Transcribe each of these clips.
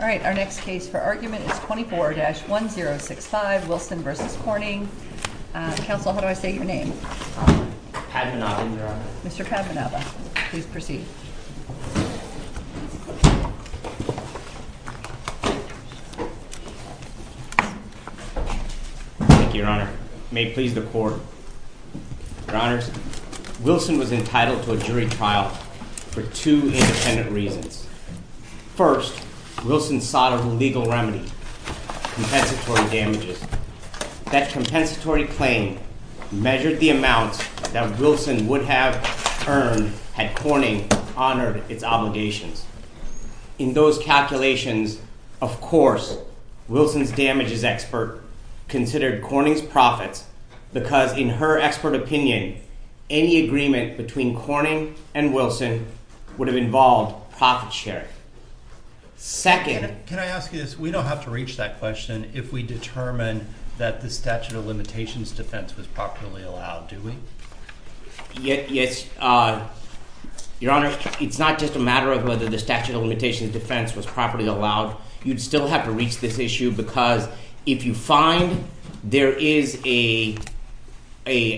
All right, our next case for argument is 24-1065, Wilson v. Corning. Counsel, how do I say your name? Padmanabhan, Your Honor. Mr. Padmanabhan, please proceed. Thank you, Your Honor. May it please the Court. Your Honors, Wilson was entitled to a jury trial for two independent reasons. First, Wilson sought a legal remedy, compensatory damages. That compensatory claim measured the amount that Wilson would have earned had Corning honored its obligations. In those calculations, of course, Wilson's damages expert considered Corning's profits because in her expert opinion, any agreement between Corning and Wilson would have involved profit sharing. Second... Can I ask you this? We don't have to reach that question if we determine that the statute of limitations defense was properly allowed, do we? Yes, Your Honor. It's not just a matter of whether the statute of limitations defense was properly allowed. You'd still have to reach this issue because if you find there is an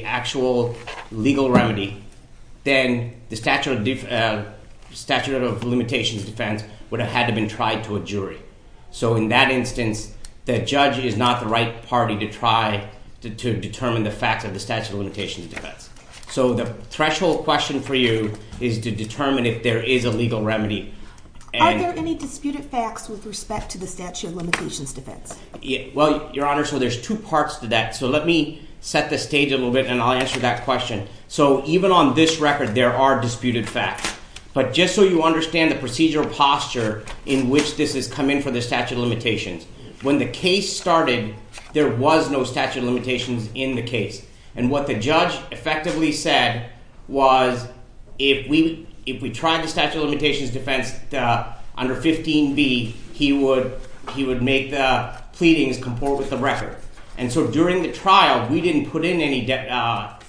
actual legal remedy, then the statute of limitations defense would have had to be tried to a jury. So in that instance, the judge is not the right party to try to determine the facts of the statute of limitations defense. So the threshold question for you is to determine if there is a legal remedy. Are there any disputed facts with respect to the statute of limitations defense? Well, Your Honor, so there's two parts to that. So let me set the stage a little bit and I'll answer that question. So even on this record, there are disputed facts. But just so you understand the procedural posture in which this has come in for the statute of limitations. When the case started, there was no statute of limitations in the case. And what the judge effectively said was if we tried the statute of limitations defense under 15B, he would make the pleadings comport with the record. And so during the trial, we didn't put in any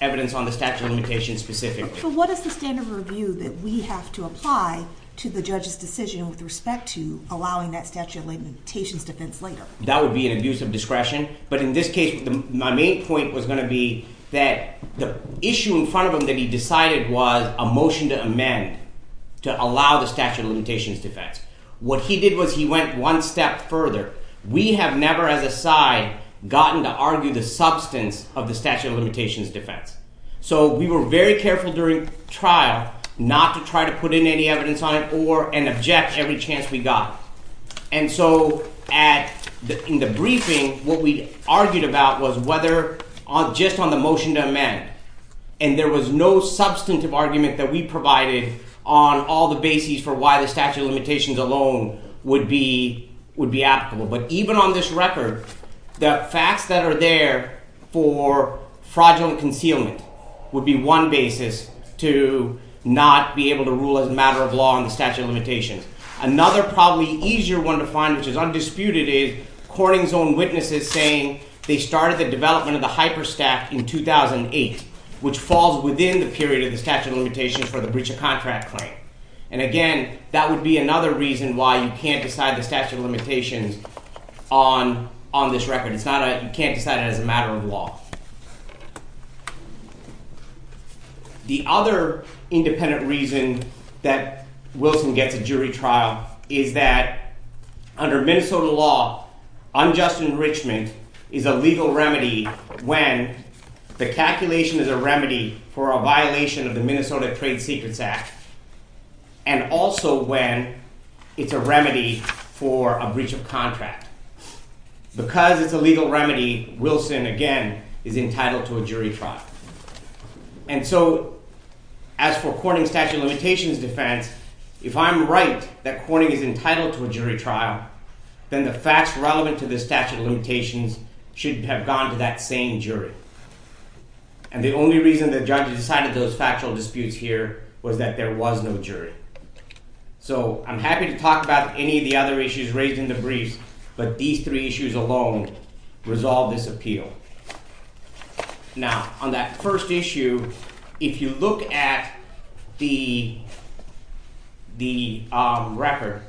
evidence on the statute of limitations specifically. So what is the standard of review that we have to apply to the judge's decision with respect to allowing that statute of limitations defense later? That would be an abuse of discretion. But in this case, my main point was going to be that the issue in front of him that he decided was a motion to amend to allow the statute of limitations defense. What he did was he went one step further. We have never as a side gotten to argue the substance of the statute of limitations defense. So we were very careful during trial not to try to put in any evidence on it or and object every chance we got. And so in the briefing, what we argued about was whether just on the motion to amend and there was no substantive argument that we provided on all the bases for why the statute of limitations alone would be applicable. But even on this record, the facts that are there for fraudulent concealment would be one basis to not be able to rule as a matter of law on the statute of limitations. Another probably easier one to find, which is undisputed, is Corning's own witnesses saying they started the development of the hyperstack in 2008, which falls within the period of the statute of limitations for the breach of contract claim. And again, that would be another reason why you can't decide the statute of limitations on this record. You can't decide it as a matter of law. The other independent reason that Wilson gets a jury trial is that under Minnesota law, unjust enrichment is a legal remedy when the calculation is a remedy for a violation of the Minnesota Trade Secrets Act and also when it's a remedy for a breach of contract. Because it's a legal remedy, Wilson, again, is entitled to a jury trial. And so, as for Corning's statute of limitations defense, if I'm right that Corning is entitled to a jury trial, then the facts relevant to the statute of limitations should have gone to that same jury. And the only reason the judge decided those factual disputes here was that there was no jury. So, I'm happy to talk about any of the other issues raised in the briefs, but these three issues alone resolve this appeal. Now, on that first issue, if you look at the record,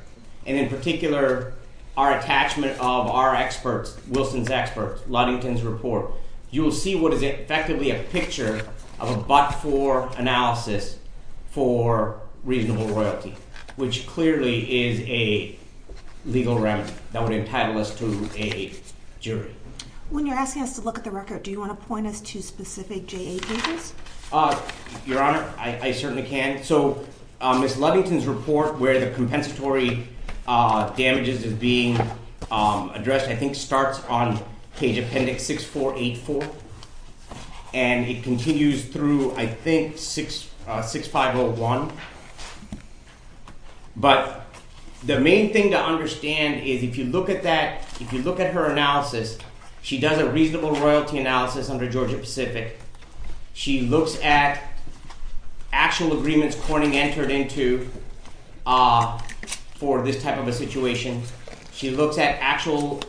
and in particular our attachment of our experts, Wilson's experts, Ludington's report, you will see what is effectively a picture of a but-for analysis for reasonable royalty, which clearly is a legal remedy that would entitle us to a jury. When you're asking us to look at the record, do you want to point us to specific JA cases? Your Honor, I certainly can. So, Ms. Ludington's report, where the compensatory damages is being addressed, I think starts on page appendix 6484 and it continues through, I think, 6501. But the main thing to understand is if you look at that, if you look at her analysis, she does a reasonable royalty analysis under Georgia Pacific. She looks at actual agreements Corning entered into for this type of a situation. She looks at actual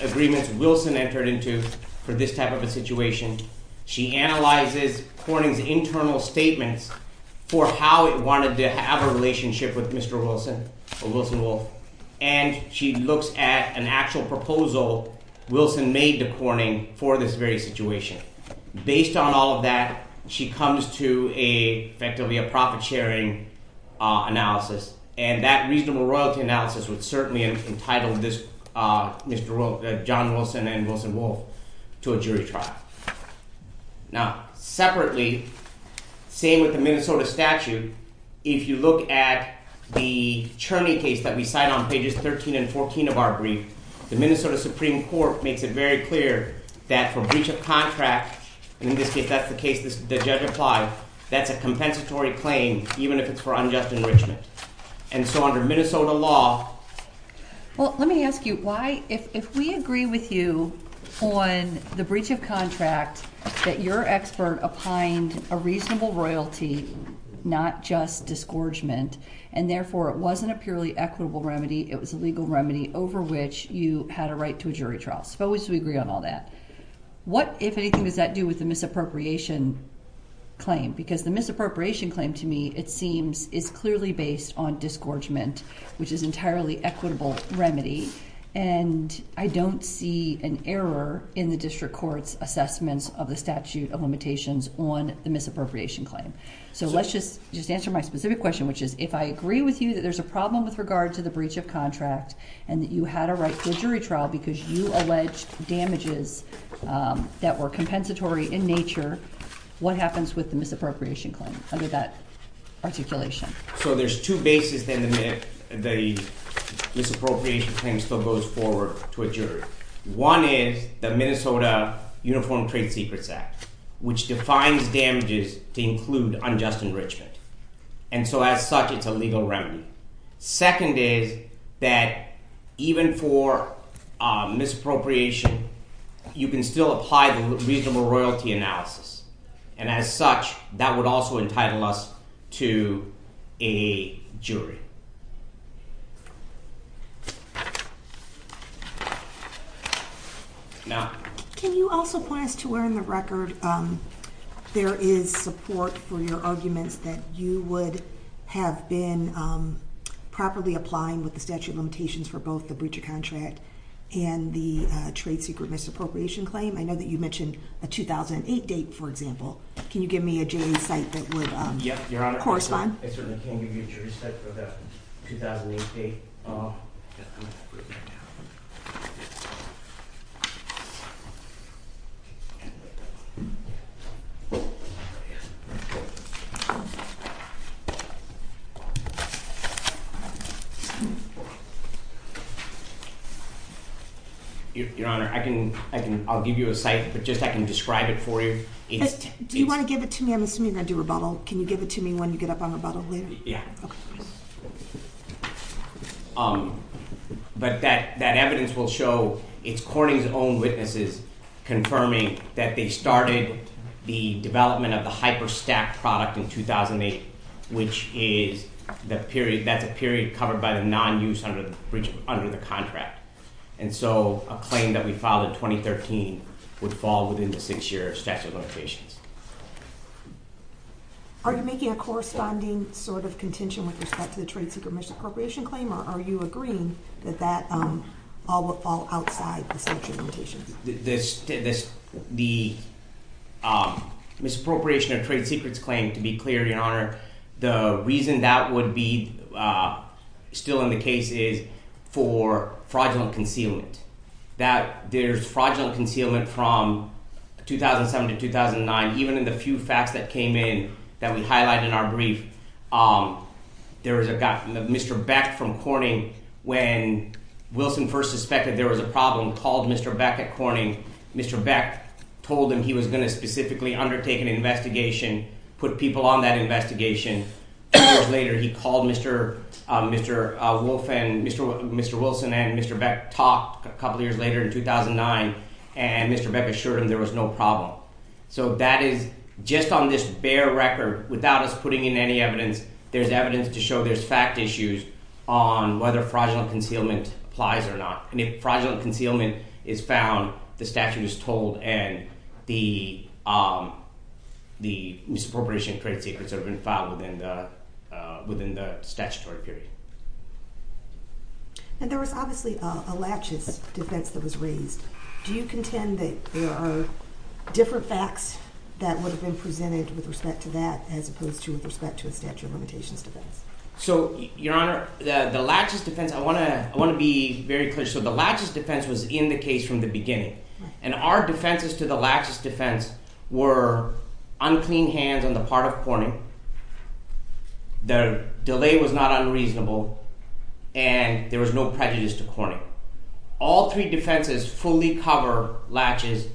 agreements Wilson entered into for this type of a situation. She analyzes Corning's internal statements for how it wanted to have a relationship with Mr. Wilson, or Wilson Wolf. And she looks at an actual proposal Wilson made to Corning for this very situation. Based on all of that, she comes to effectively a profit-sharing analysis. And that reasonable royalty analysis would certainly entitle John Wilson and Wilson Wolf to a jury trial. Now, separately, same with the Minnesota statute, if you look at the Cherney case that we cite on pages 13 and 14 of our brief, the Minnesota Supreme Court makes it very clear that for breach of contract, and in this case, that's the case the judge applied, that's a compensatory claim even if it's for unjust enrichment. And so under Minnesota law... Well, let me ask you why, if we agree with you on the breach of contract that your expert opined a reasonable royalty, not just disgorgement, and therefore it wasn't a purely equitable remedy, it was a legal remedy, over which you had a right to a jury trial. Suppose we agree on all that. What, if anything, does that do with the misappropriation claim? Because the misappropriation claim, to me, it seems, is clearly based on disgorgement, which is an entirely equitable remedy. And I don't see an error in the district court's assessments of the statute of limitations on the misappropriation claim. So let's just answer my specific question, which is, if I agree with you that there's a problem with regard to the breach of contract and that you had a right to a jury trial because you alleged damages that were compensatory in nature, what happens with the misappropriation claim under that articulation? So there's two bases then the misappropriation claim still goes forward to a jury. One is the Minnesota Uniform Trade Secrets Act, which defines damages to include unjust enrichment. And so as such, it's a legal remedy. Second is that even for misappropriation, you can still apply the reasonable royalty analysis. And as such, that would also entitle us to a jury. Now... Can you also point us to where in the record there is support for your arguments that you would have been properly applying with the statute of limitations for both the breach of contract and the trade secret misappropriation claim? I know that you mentioned a 2008 date, for example. Can you give me a J.A. site that would correspond? Yes, Your Honor. I certainly can give you a jury site for that 2008 date. Your Honor, I'll give you a site, but just I can describe it for you. Do you want to give it to me? I'm assuming you're going to do rebuttal. Can you give it to me when you get up on rebuttal later? Yeah. Okay. But that evidence will show it's Corning's own witnesses confirming that they started the development of the hyper-stack product in 2008, which is a period covered by the non-use under the contract. And so a claim that we filed in 2013 would fall within the six-year statute of limitations. Are you making a corresponding sort of contention with respect to the trade secret misappropriation claim or are you agreeing that that all would fall outside the statute of limitations? The misappropriation of trade secrets claim, to be clear, Your Honor, the reason that would be still in the case is for fraudulent concealment. There's fraudulent concealment from 2007 to 2009. Even in the few facts that came in that we highlighted in our brief, there was a guy, Mr. Beck from Corning, when Wilson first suspected there was a problem, called Mr. Beck at Corning. Mr. Beck told him he was going to specifically undertake an investigation, put people on that investigation. Two years later, he called Mr. Wolf and Mr. Wilson and Mr. Beck talked a couple of years later in 2009 and Mr. Beck assured him there was no problem. So that is just on this bare record without us putting in any evidence, there's evidence to show there's fact issues on whether fraudulent concealment applies or not. And if fraudulent concealment is found, the statute is told and the misappropriation of trade secrets have been filed within the statutory period. And there was obviously a laches defense that was raised. Do you contend that there are different facts that would have been presented with respect to that as opposed to with respect to a statute of limitations defense? So, Your Honor, the laches defense, I want to be very clear. So the laches defense was in the case from the beginning. And our defenses to the laches defense were unclean hands on the part of Corning, the delay was not unreasonable, and there was no prejudice to Corning. All three defenses fully cover laches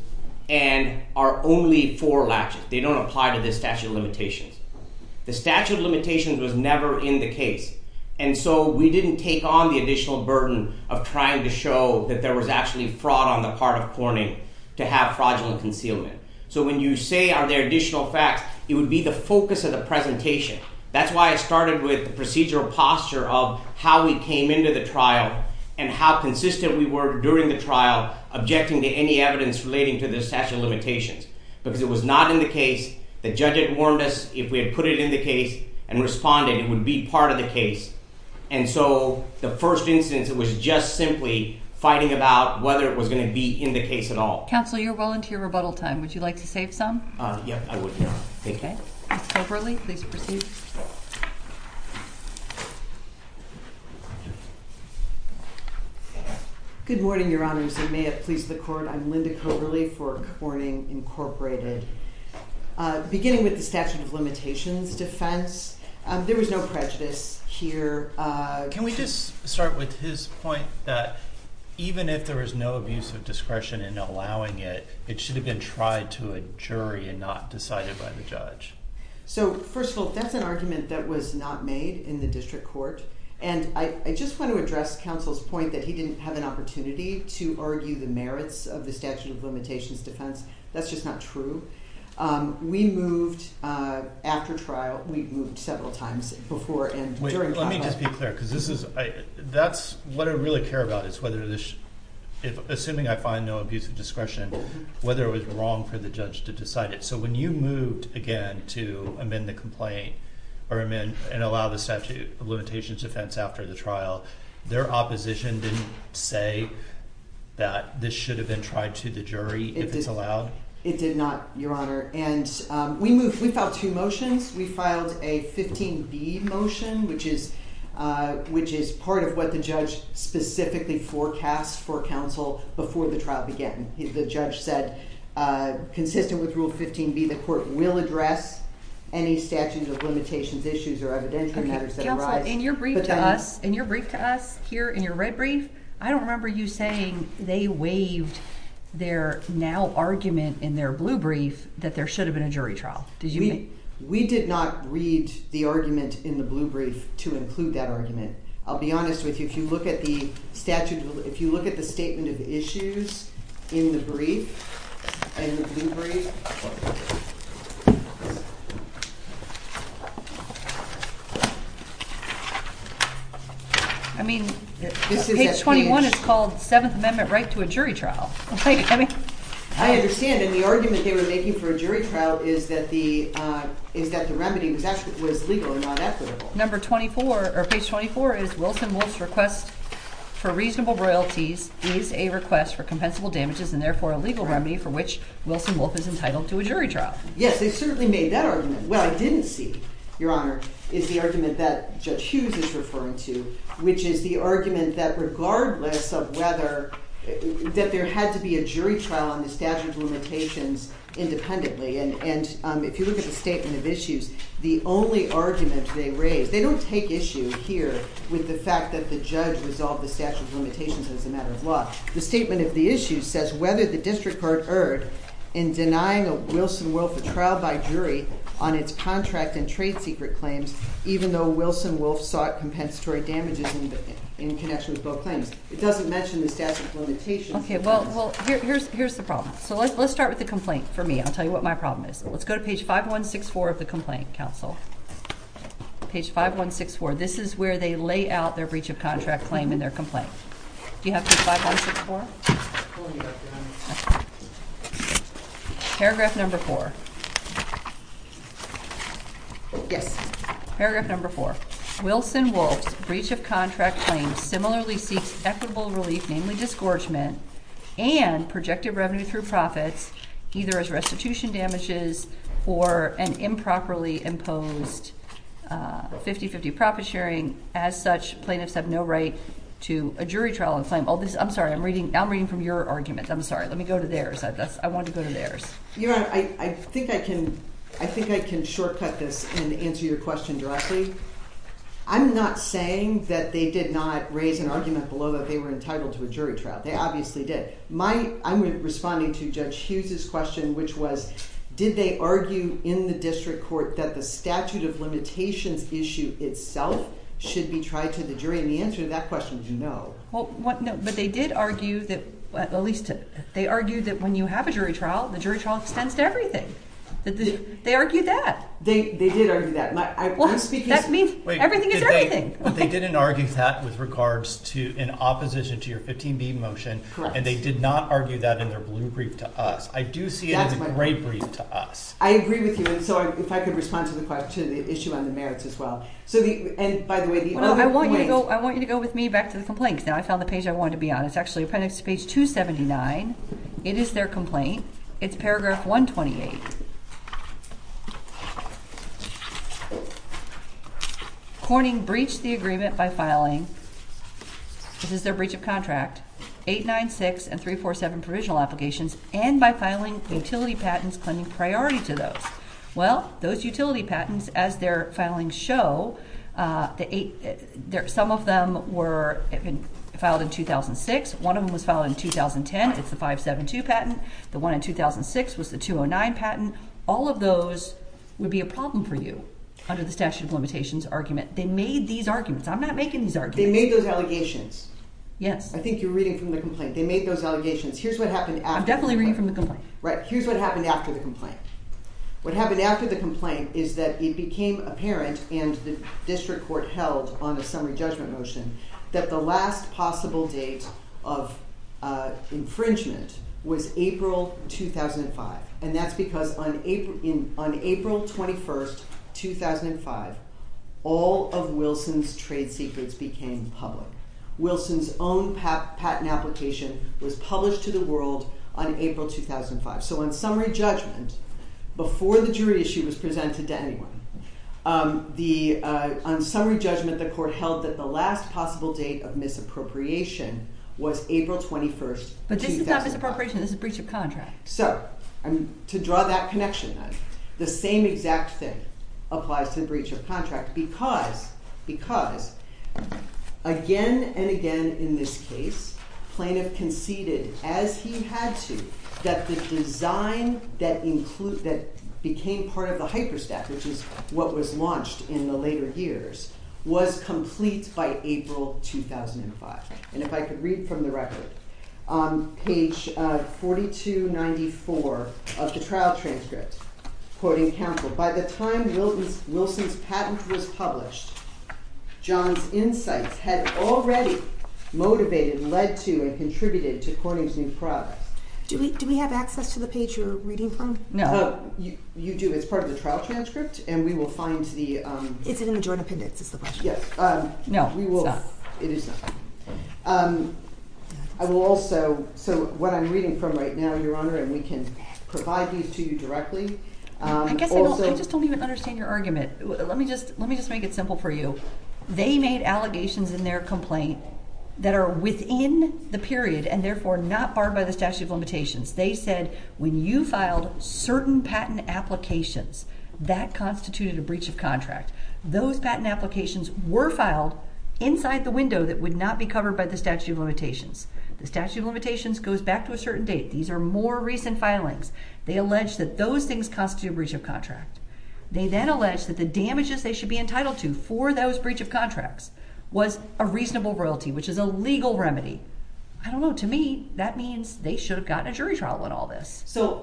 and are only for laches. They don't apply to the statute of limitations. The statute of limitations was never in the case. And so we didn't take on the additional burden of trying to show that there was actually fraud on the part of Corning to have fraudulent concealment. So when you say are there additional facts, it would be the focus of the presentation. That's why I started with the procedural posture of how we came into the trial and how consistent we were during the trial objecting to any evidence relating to the statute of limitations because it was not in the case. The judge had warned us if we had put it in the case and responded, it would be part of the case. And so the first instance, it was just simply fighting about whether it was going to be in the case at all. Counsel, you're well into your rebuttal time. Would you like to save some? Yep, I would. Okay. Ms. Coberly, please proceed. Good morning, Your Honor. In the interest of time, may it please the court, I'm Linda Coberly for Corning Incorporated. Beginning with the statute of limitations defense, there was no prejudice here. Can we just start with his point that even if there was no abuse of discretion in allowing it, it should have been tried to a jury and not decided by the judge? So, first of all, that's an argument that was not made in the district court. And I just want to address counsel's point that he didn't have an opportunity to argue the merits of the statute of limitations defense. That's just not true. We moved after trial, we moved several times before and during trial. Wait, let me just be clear because this is, that's what I really care about is whether this, assuming I find no abuse of discretion, whether it was wrong for the judge to decide it. So when you moved again to amend the complaint and allow the statute of limitations defense after the trial, their opposition didn't say that this should have been tried to the jury if it's allowed? It did not, Your Honor. And we moved, we filed two motions. We filed a 15B motion, which is part of what the judge specifically forecast for counsel before the trial began. The judge said, consistent with Rule 15B, the court will address any statute of limitations issues or evidentiary matters that arise. Okay, counsel, in your brief to us, in your brief to us here, in your red brief, I don't remember you saying they waived their now argument in their blue brief that there should have been a jury trial. We did not read the argument in the blue brief to include that argument. I'll be honest with you. If you look at the statute, if you look at the statement of issues in the brief, in the blue brief. I mean, page 21 is called Seventh Amendment right to a jury trial. I mean. I understand. And the argument they were making for a jury trial is that the, is that the remedy was actually, was legal and not equitable. Page 24 is Wilson-Wolf's request for reasonable royalties is a request for compensable damages and therefore a legal remedy for which Wilson-Wolf is entitled to a jury trial. Yes, they certainly made that argument. What I didn't see, Your Honor, is the argument that Judge Hughes is referring to, which is the argument that regardless of whether, that there had to be a jury trial on the statute of limitations independently. And if you look at the statement of issues, the only argument they raised, they don't take issue here with the fact that the judge resolved the statute of limitations as a matter of law. The statement of the issues says whether the district court erred in denying Wilson-Wolf a trial by jury on its contract and trade secret claims, even though Wilson-Wolf sought compensatory damages in connection with both claims. It doesn't mention the statute of limitations. Okay, well, here's the problem. So let's start with the complaint for me. I'll tell you what my problem is. Let's go to page 5164 of the complaint, counsel. Page 5164. This is where they lay out their breach of contract claim in their complaint. Do you have page 5164? Paragraph number four. Yes. Paragraph number four. I'm sorry. I'm reading from your argument. I'm sorry. Let me go to theirs. I wanted to go to theirs. Your Honor, I think I can shortcut this and answer your question directly. I'm not saying that they did not raise an argument below that they were entitled to a jury trial. They obviously did. I'm responding to Judge Hughes' question, which was did they argue in the district court that the statute of limitations issue itself should be tried to the jury? And the answer to that question is no. But they did argue that when you have a jury trial, the jury trial extends to everything. They argued that. They did argue that. That means everything is everything. They didn't argue that with regards to in opposition to your 15B motion. And they did not argue that in their blue brief to us. I do see it in the gray brief to us. I agree with you. And so if I could respond to the issue on the merits as well. I want you to go with me back to the complaints. Now, I found the page I wanted to be on. It's actually appendix to page 279. It is their complaint. It's paragraph 128. Corning breached the agreement by filing, this is their breach of contract, 896 and 347 provisional applications and by filing utility patents claiming priority to those. Well, those utility patents, as their filings show, some of them were filed in 2006. One of them was filed in 2010. It's the 572 patent. The one in 2006 was the 209 patent. All of those would be a problem for you under the statute of limitations argument. They made these arguments. I'm not making these arguments. They made those allegations. Yes. I think you're reading from the complaint. They made those allegations. Here's what happened after. I'm definitely reading from the complaint. Right. Here's what happened after the complaint. What happened after the complaint is that it became apparent and the district court held on a summary judgment motion that the last possible date of infringement was April 2005. And that's because on April 21, 2005, all of Wilson's trade secrets became public. Wilson's own patent application was published to the world on April 2005. So on summary judgment, before the jury issue was presented to anyone, on summary judgment, the court held that the last possible date of misappropriation was April 21, 2005. But this is not misappropriation. This is breach of contract. So to draw that connection, the same exact thing applies to breach of contract because, again and again in this case, plaintiff conceded as he had to that the design that became part of the hyperstat, which is what was launched in the later years, was complete by April 2005. And if I could read from the record, on page 4294 of the trial transcript, quoting Campbell, by the time Wilson's patent was published, John's insights had already motivated, led to, and contributed to Corning's new progress. Do we have access to the page you're reading from? No. You do. It's part of the trial transcript, and we will find the... Is it in the joint appendix is the question. Yes. No, it's not. It is not. I will also... So what I'm reading from right now, Your Honor, and we can provide these to you directly... I guess I just don't even understand your argument. Let me just make it simple for you. They made allegations in their complaint that are within the period and therefore not barred by the statute of limitations. They said when you filed certain patent applications, that constituted a breach of contract. Those patent applications were filed inside the window that would not be covered by the statute of limitations. The statute of limitations goes back to a certain date. These are more recent filings. They allege that those things constitute a breach of contract. They then allege that the damages they should be entitled to for those breach of contracts was a reasonable royalty, which is a legal remedy. I don't know. To me, that means they should have gotten a jury trial on all this. So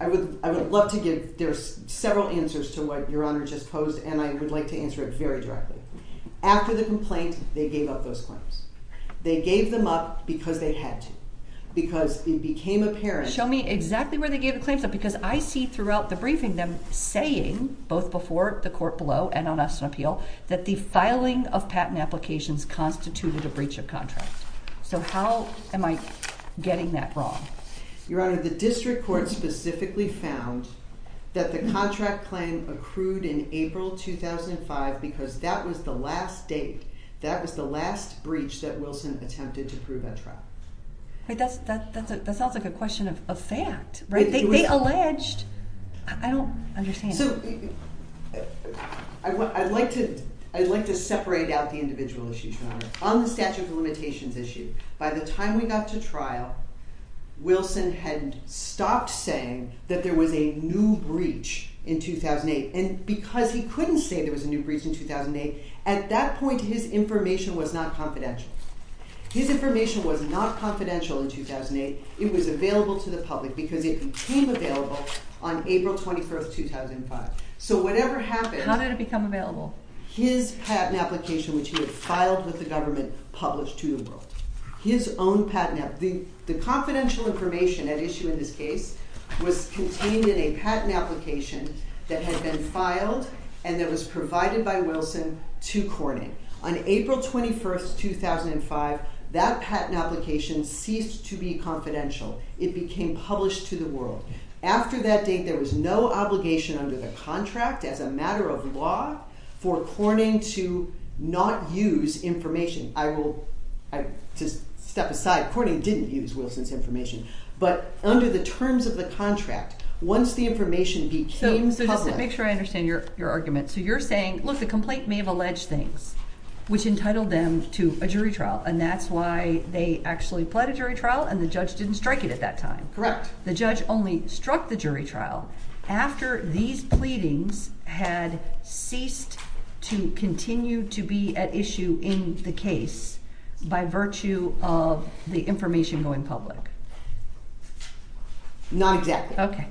I would love to give... There's several answers to what Your Honor just posed, and I would like to answer it very directly. After the complaint, they gave up those claims. They gave them up because they had to, because it became apparent... Show me exactly where they gave the claims up, because I see throughout the briefing, both before the court below and on us in appeal, that the filing of patent applications constituted a breach of contract. So how am I getting that wrong? Your Honor, the district court specifically found that the contract claim accrued in April 2005 because that was the last date, that was the last breach that Wilson attempted to prove at trial. That sounds like a question of fact. They alleged... I don't understand. So I'd like to separate out the individual issues, Your Honor. On the statute of limitations issue, by the time we got to trial, Wilson had stopped saying that there was a new breach in 2008. And because he couldn't say there was a new breach in 2008, at that point his information was not confidential. His information was not confidential in 2008. It was available to the public because it became available on April 21, 2005. So whatever happened... How did it become available? His patent application, which he had filed with the government, published to the world. His own patent application. The confidential information at issue in this case was contained in a patent application that had been filed and that was provided by Wilson to Corning. On April 21, 2005, that patent application ceased to be confidential. It became published to the world. After that date, there was no obligation under the contract as a matter of law for Corning to not use information. I will just step aside. Corning didn't use Wilson's information. But under the terms of the contract, once the information became public... So just to make sure I understand your argument. So you're saying, look, the complaint may have alleged things, which entitled them to a jury trial. And that's why they actually pled a jury trial and the judge didn't strike it at that time. Correct. The judge only struck the jury trial after these pleadings had ceased to continue to be at issue in the case by virtue of the information going public. Not exactly. Okay.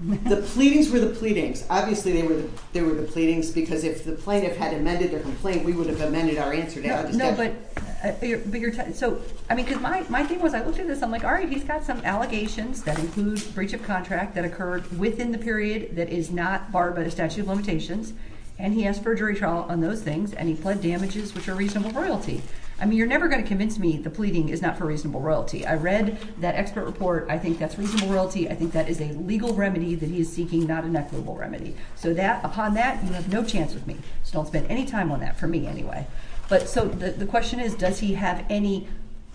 The pleadings were the pleadings. Obviously, they were the pleadings because if the plaintiff had amended their complaint, we would have amended our answer. No, but you're... So, I mean, because my thing was I looked at this. I'm like, all right, he's got some allegations that include breach of contract that occurred within the period that is not barred by the statute of limitations. And he asked for a jury trial on those things. And he pled damages, which are reasonable royalty. I mean, you're never going to convince me the pleading is not for reasonable royalty. I read that expert report. I think that's reasonable royalty. I think that is a legal remedy that he is seeking, not an equitable remedy. So, upon that, you have no chance with me. So, don't spend any time on that for me anyway. But so, the question is does he have any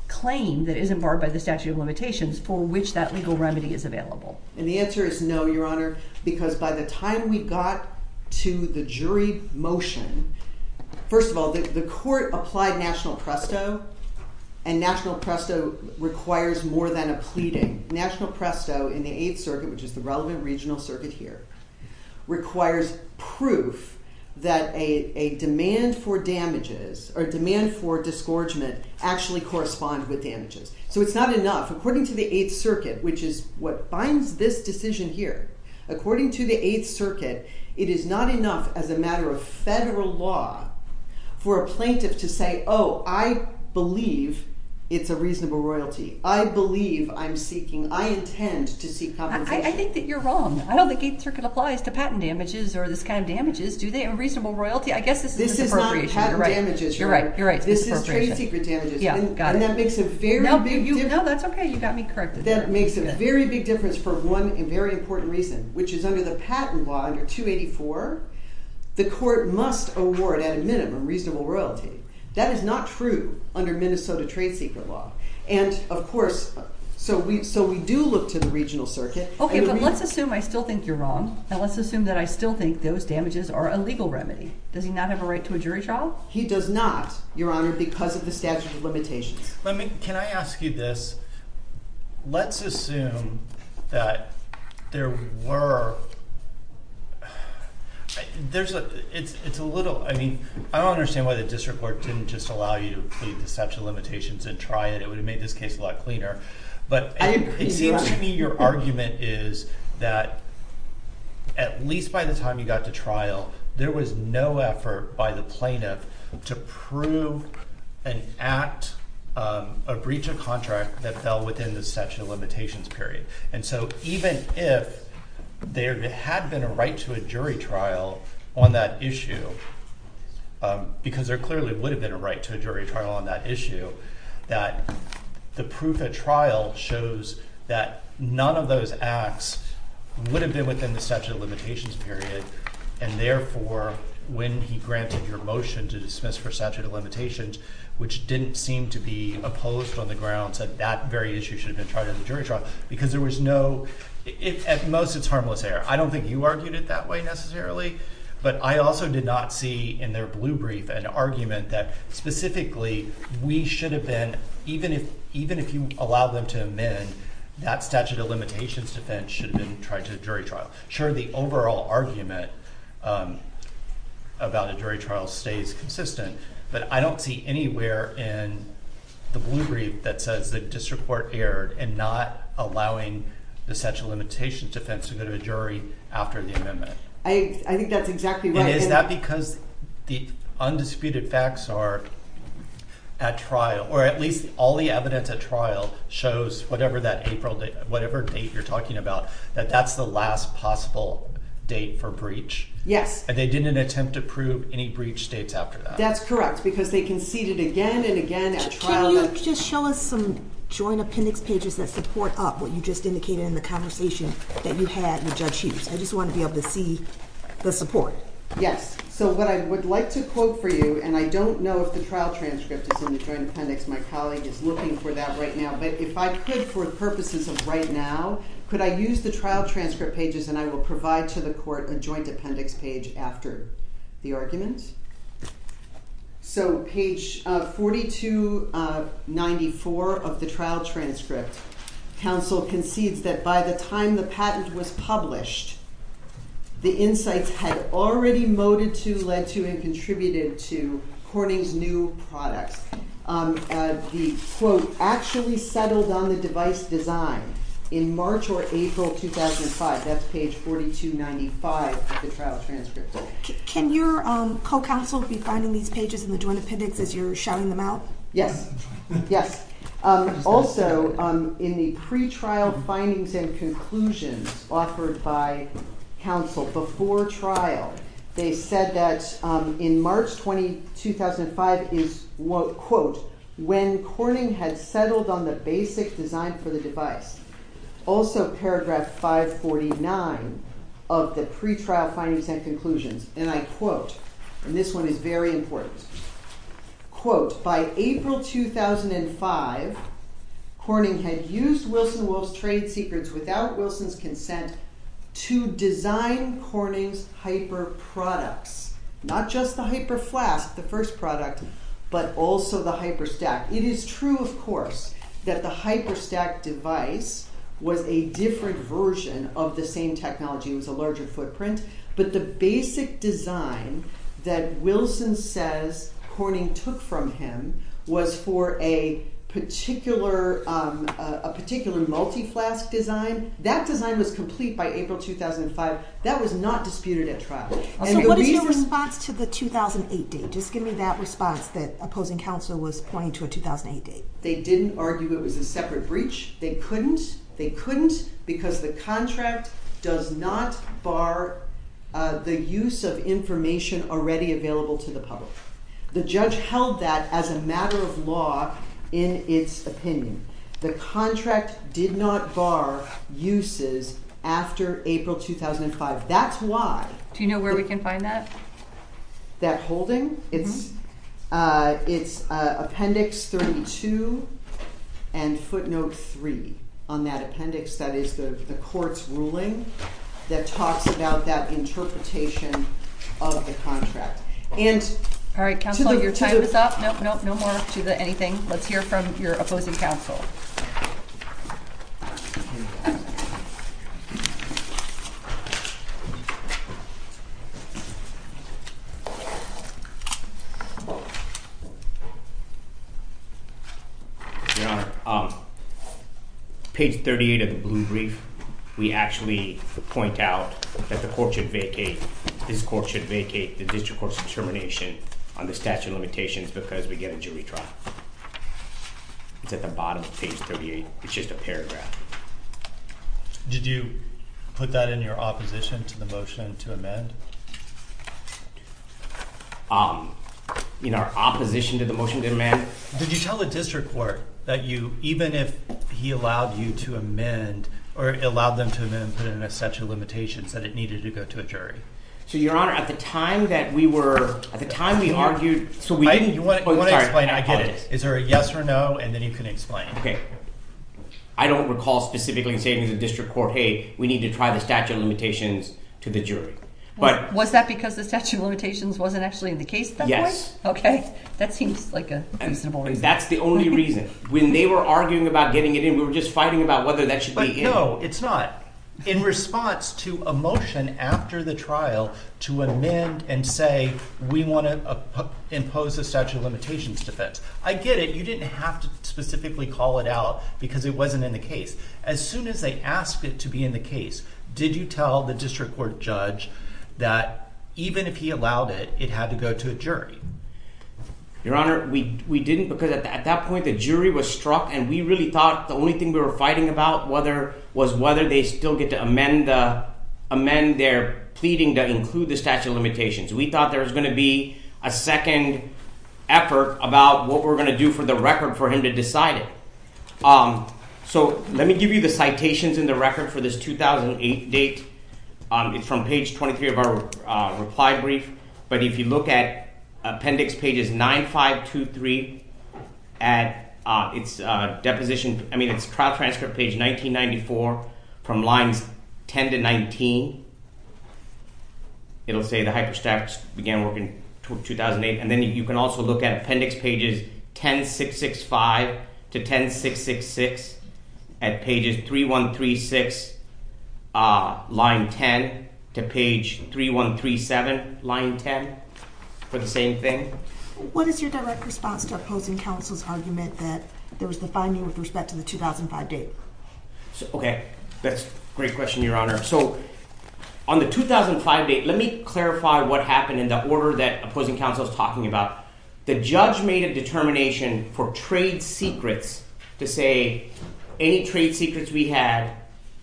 claim that isn't barred by the statute of limitations for which that legal remedy is available? And the answer is no, Your Honor, because by the time we got to the jury motion, first of all, the court applied national presto. And national presto requires more than a pleading. National presto in the Eighth Circuit, which is the relevant regional circuit here, requires proof that a demand for damages or demand for disgorgement actually corresponds with damages. So, it's not enough. According to the Eighth Circuit, which is what binds this decision here, according to the Eighth Circuit, it is not enough as a matter of federal law for a plaintiff to say, oh, I believe it's a reasonable royalty. I believe I'm seeking, I intend to seek compensation. I think that you're wrong. I don't think the Eighth Circuit applies to patent damages or this kind of damages, do they? A reasonable royalty, I guess this is an appropriation. This is not patent damages, Your Honor. You're right, you're right. This is trade secret damages. Yeah, got it. And that makes a very big difference. No, that's okay. You got me corrected. That makes a very big difference for one very important reason, which is under the patent law, under 284, the court must award, at a minimum, reasonable royalty. That is not true under Minnesota trade secret law. And, of course, so we do look to the regional circuit. Okay, but let's assume I still think you're wrong, and let's assume that I still think those damages are a legal remedy. Does he not have a right to a jury trial? He does not, Your Honor, because of the statute of limitations. Let me – can I ask you this? Let's assume that there were – there's a – it's a little – I mean, I don't understand why the district court didn't just allow you to plead the statute of limitations and try it. It would have made this case a lot cleaner. But it seems to me your argument is that at least by the time you got to trial, there was no effort by the plaintiff to prove and act a breach of contract that fell within the statute of limitations period. And so even if there had been a right to a jury trial on that issue, because there clearly would have been a right to a jury trial on that issue, that the proof at trial shows that none of those acts would have been within the statute of limitations period. And therefore, when he granted your motion to dismiss for statute of limitations, which didn't seem to be opposed on the grounds that that very issue should have been tried in a jury trial, because there was no – at most, it's harmless error. I don't think you argued it that way necessarily, but I also did not see in their blue brief an argument that specifically we should have been – even if you allowed them to amend, that statute of limitations defense should have been tried to a jury trial. Sure, the overall argument about a jury trial stays consistent, but I don't see anywhere in the blue brief that says the district court erred in not allowing the statute of limitations defense to go to a jury after the amendment. I think that's exactly right. Is that because the undisputed facts are at trial, or at least all the evidence at trial shows whatever that April – whatever date you're talking about, that that's the last possible date for breach? Yes. And they didn't attempt to prove any breach dates after that? That's correct, because they conceded again and again at trial. Can you just show us some joint appendix pages that support up what you just indicated in the conversation that you had with Judge Hughes? I just want to be able to see the support. Yes. So what I would like to quote for you, and I don't know if the trial transcript is in the joint appendix. My colleague is looking for that right now. But if I could, for the purposes of right now, could I use the trial transcript pages and I will provide to the court a joint appendix page after the argument? So page 4294 of the trial transcript, counsel concedes that by the time the patent was published, the insights had already moted to, led to, and contributed to Corning's new products. The quote actually settled on the device design in March or April 2005. That's page 4295 of the trial transcript. Can your co-counsel be finding these pages in the joint appendix as you're shouting them out? Yes. Yes. Also, in the pretrial findings and conclusions offered by counsel before trial, they said that in March 2005 is, quote, when Corning had settled on the basic design for the device. Also, paragraph 549 of the pretrial findings and conclusions, and I quote, and this one is very important, quote, By April 2005, Corning had used Wilson Wolf's trade secrets without Wilson's consent to design Corning's hyper products. Not just the hyper flask, the first product, but also the hyper stack. It is true, of course, that the hyper stack device was a different version of the same technology. It was a larger footprint. But the basic design that Wilson says Corning took from him was for a particular multi-flask design. That design was complete by April 2005. That was not disputed at trial. So what is your response to the 2008 date? Just give me that response that opposing counsel was pointing to a 2008 date. They didn't argue it was a separate breach. They couldn't. They couldn't because the contract does not bar the use of information already available to the public. The judge held that as a matter of law in its opinion. The contract did not bar uses after April 2005. That's why. Do you know where we can find that? That holding? It's appendix 32 and footnote 3 on that appendix. That is the court's ruling that talks about that interpretation of the contract. All right, counsel, your time is up. No more to anything. Let's hear from your opposing counsel. Your Honor, page 38 of the blue brief, we actually point out that the court should vacate. This court should vacate the district court's determination on the statute of limitations because we get a jury trial. It's at the bottom of page 38. It's just a paragraph. Did you put that in your opposition to the motion to amend? In our opposition to the motion to amend? Did you tell the district court that you, even if he allowed you to amend or allowed them to amend and put in a statute of limitations, that it needed to go to a jury? So, Your Honor, at the time that we were—at the time we argued— You want to explain. I get it. Is there a yes or no, and then you can explain. Okay. I don't recall specifically saying to the district court, hey, we need to try the statute of limitations to the jury. Was that because the statute of limitations wasn't actually in the case at that point? Yes. Okay. That seems like a reasonable reason. That's the only reason. When they were arguing about getting it in, we were just fighting about whether that should be in. No, it's not. In response to a motion after the trial to amend and say, we want to impose a statute of limitations defense. I get it. You didn't have to specifically call it out because it wasn't in the case. As soon as they asked it to be in the case, did you tell the district court judge that even if he allowed it, it had to go to a jury? Your Honor, we didn't because at that point, the jury was struck, and we really thought the only thing we were fighting about was whether they still get to amend their pleading to include the statute of limitations. We thought there was going to be a second effort about what we're going to do for the record for him to decide it. Let me give you the citations in the record for this 2008 date. It's from page 23 of our reply brief, but if you look at appendix pages 9523 at its trial transcript page 1994 from lines 10 to 19, it'll say the hyperstats began working in 2008, and then you can also look at appendix pages 10665 to 10666 at pages 3136 line 10 to page 3137 line 10 for the same thing. What is your direct response to opposing counsel's argument that there was the finding with respect to the 2005 date? Okay, that's a great question, Your Honor. So on the 2005 date, let me clarify what happened in the order that opposing counsel is talking about. The judge made a determination for trade secrets to say any trade secrets we had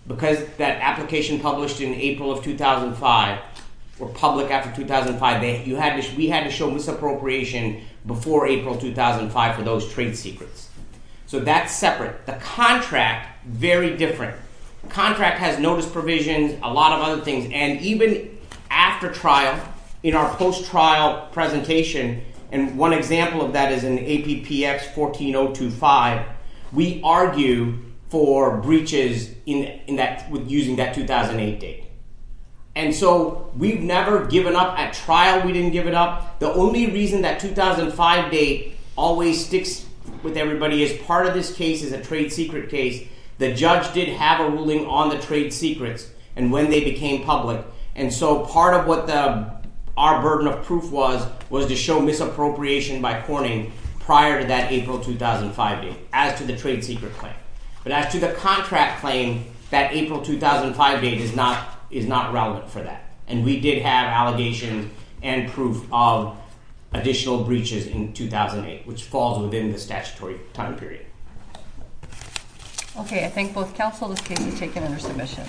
because that application published in April of 2005 were public after 2005. We had to show misappropriation before April 2005 for those trade secrets, so that's separate. The contract, very different. The contract has notice provisions, a lot of other things, and even after trial, in our post-trial presentation, and one example of that is in APPX14025, we argue for breaches using that 2008 date, and so we've never given up. At trial, we didn't give it up. The only reason that 2005 date always sticks with everybody is part of this case is a trade secret case. The judge did have a ruling on the trade secrets and when they became public, and so part of what our burden of proof was was to show misappropriation by corning prior to that April 2005 date as to the trade secret claim. But as to the contract claim, that April 2005 date is not relevant for that, and we did have allegations and proof of additional breaches in 2008, which falls within the statutory time period. Okay, I thank both counsel. This case is taken under submission.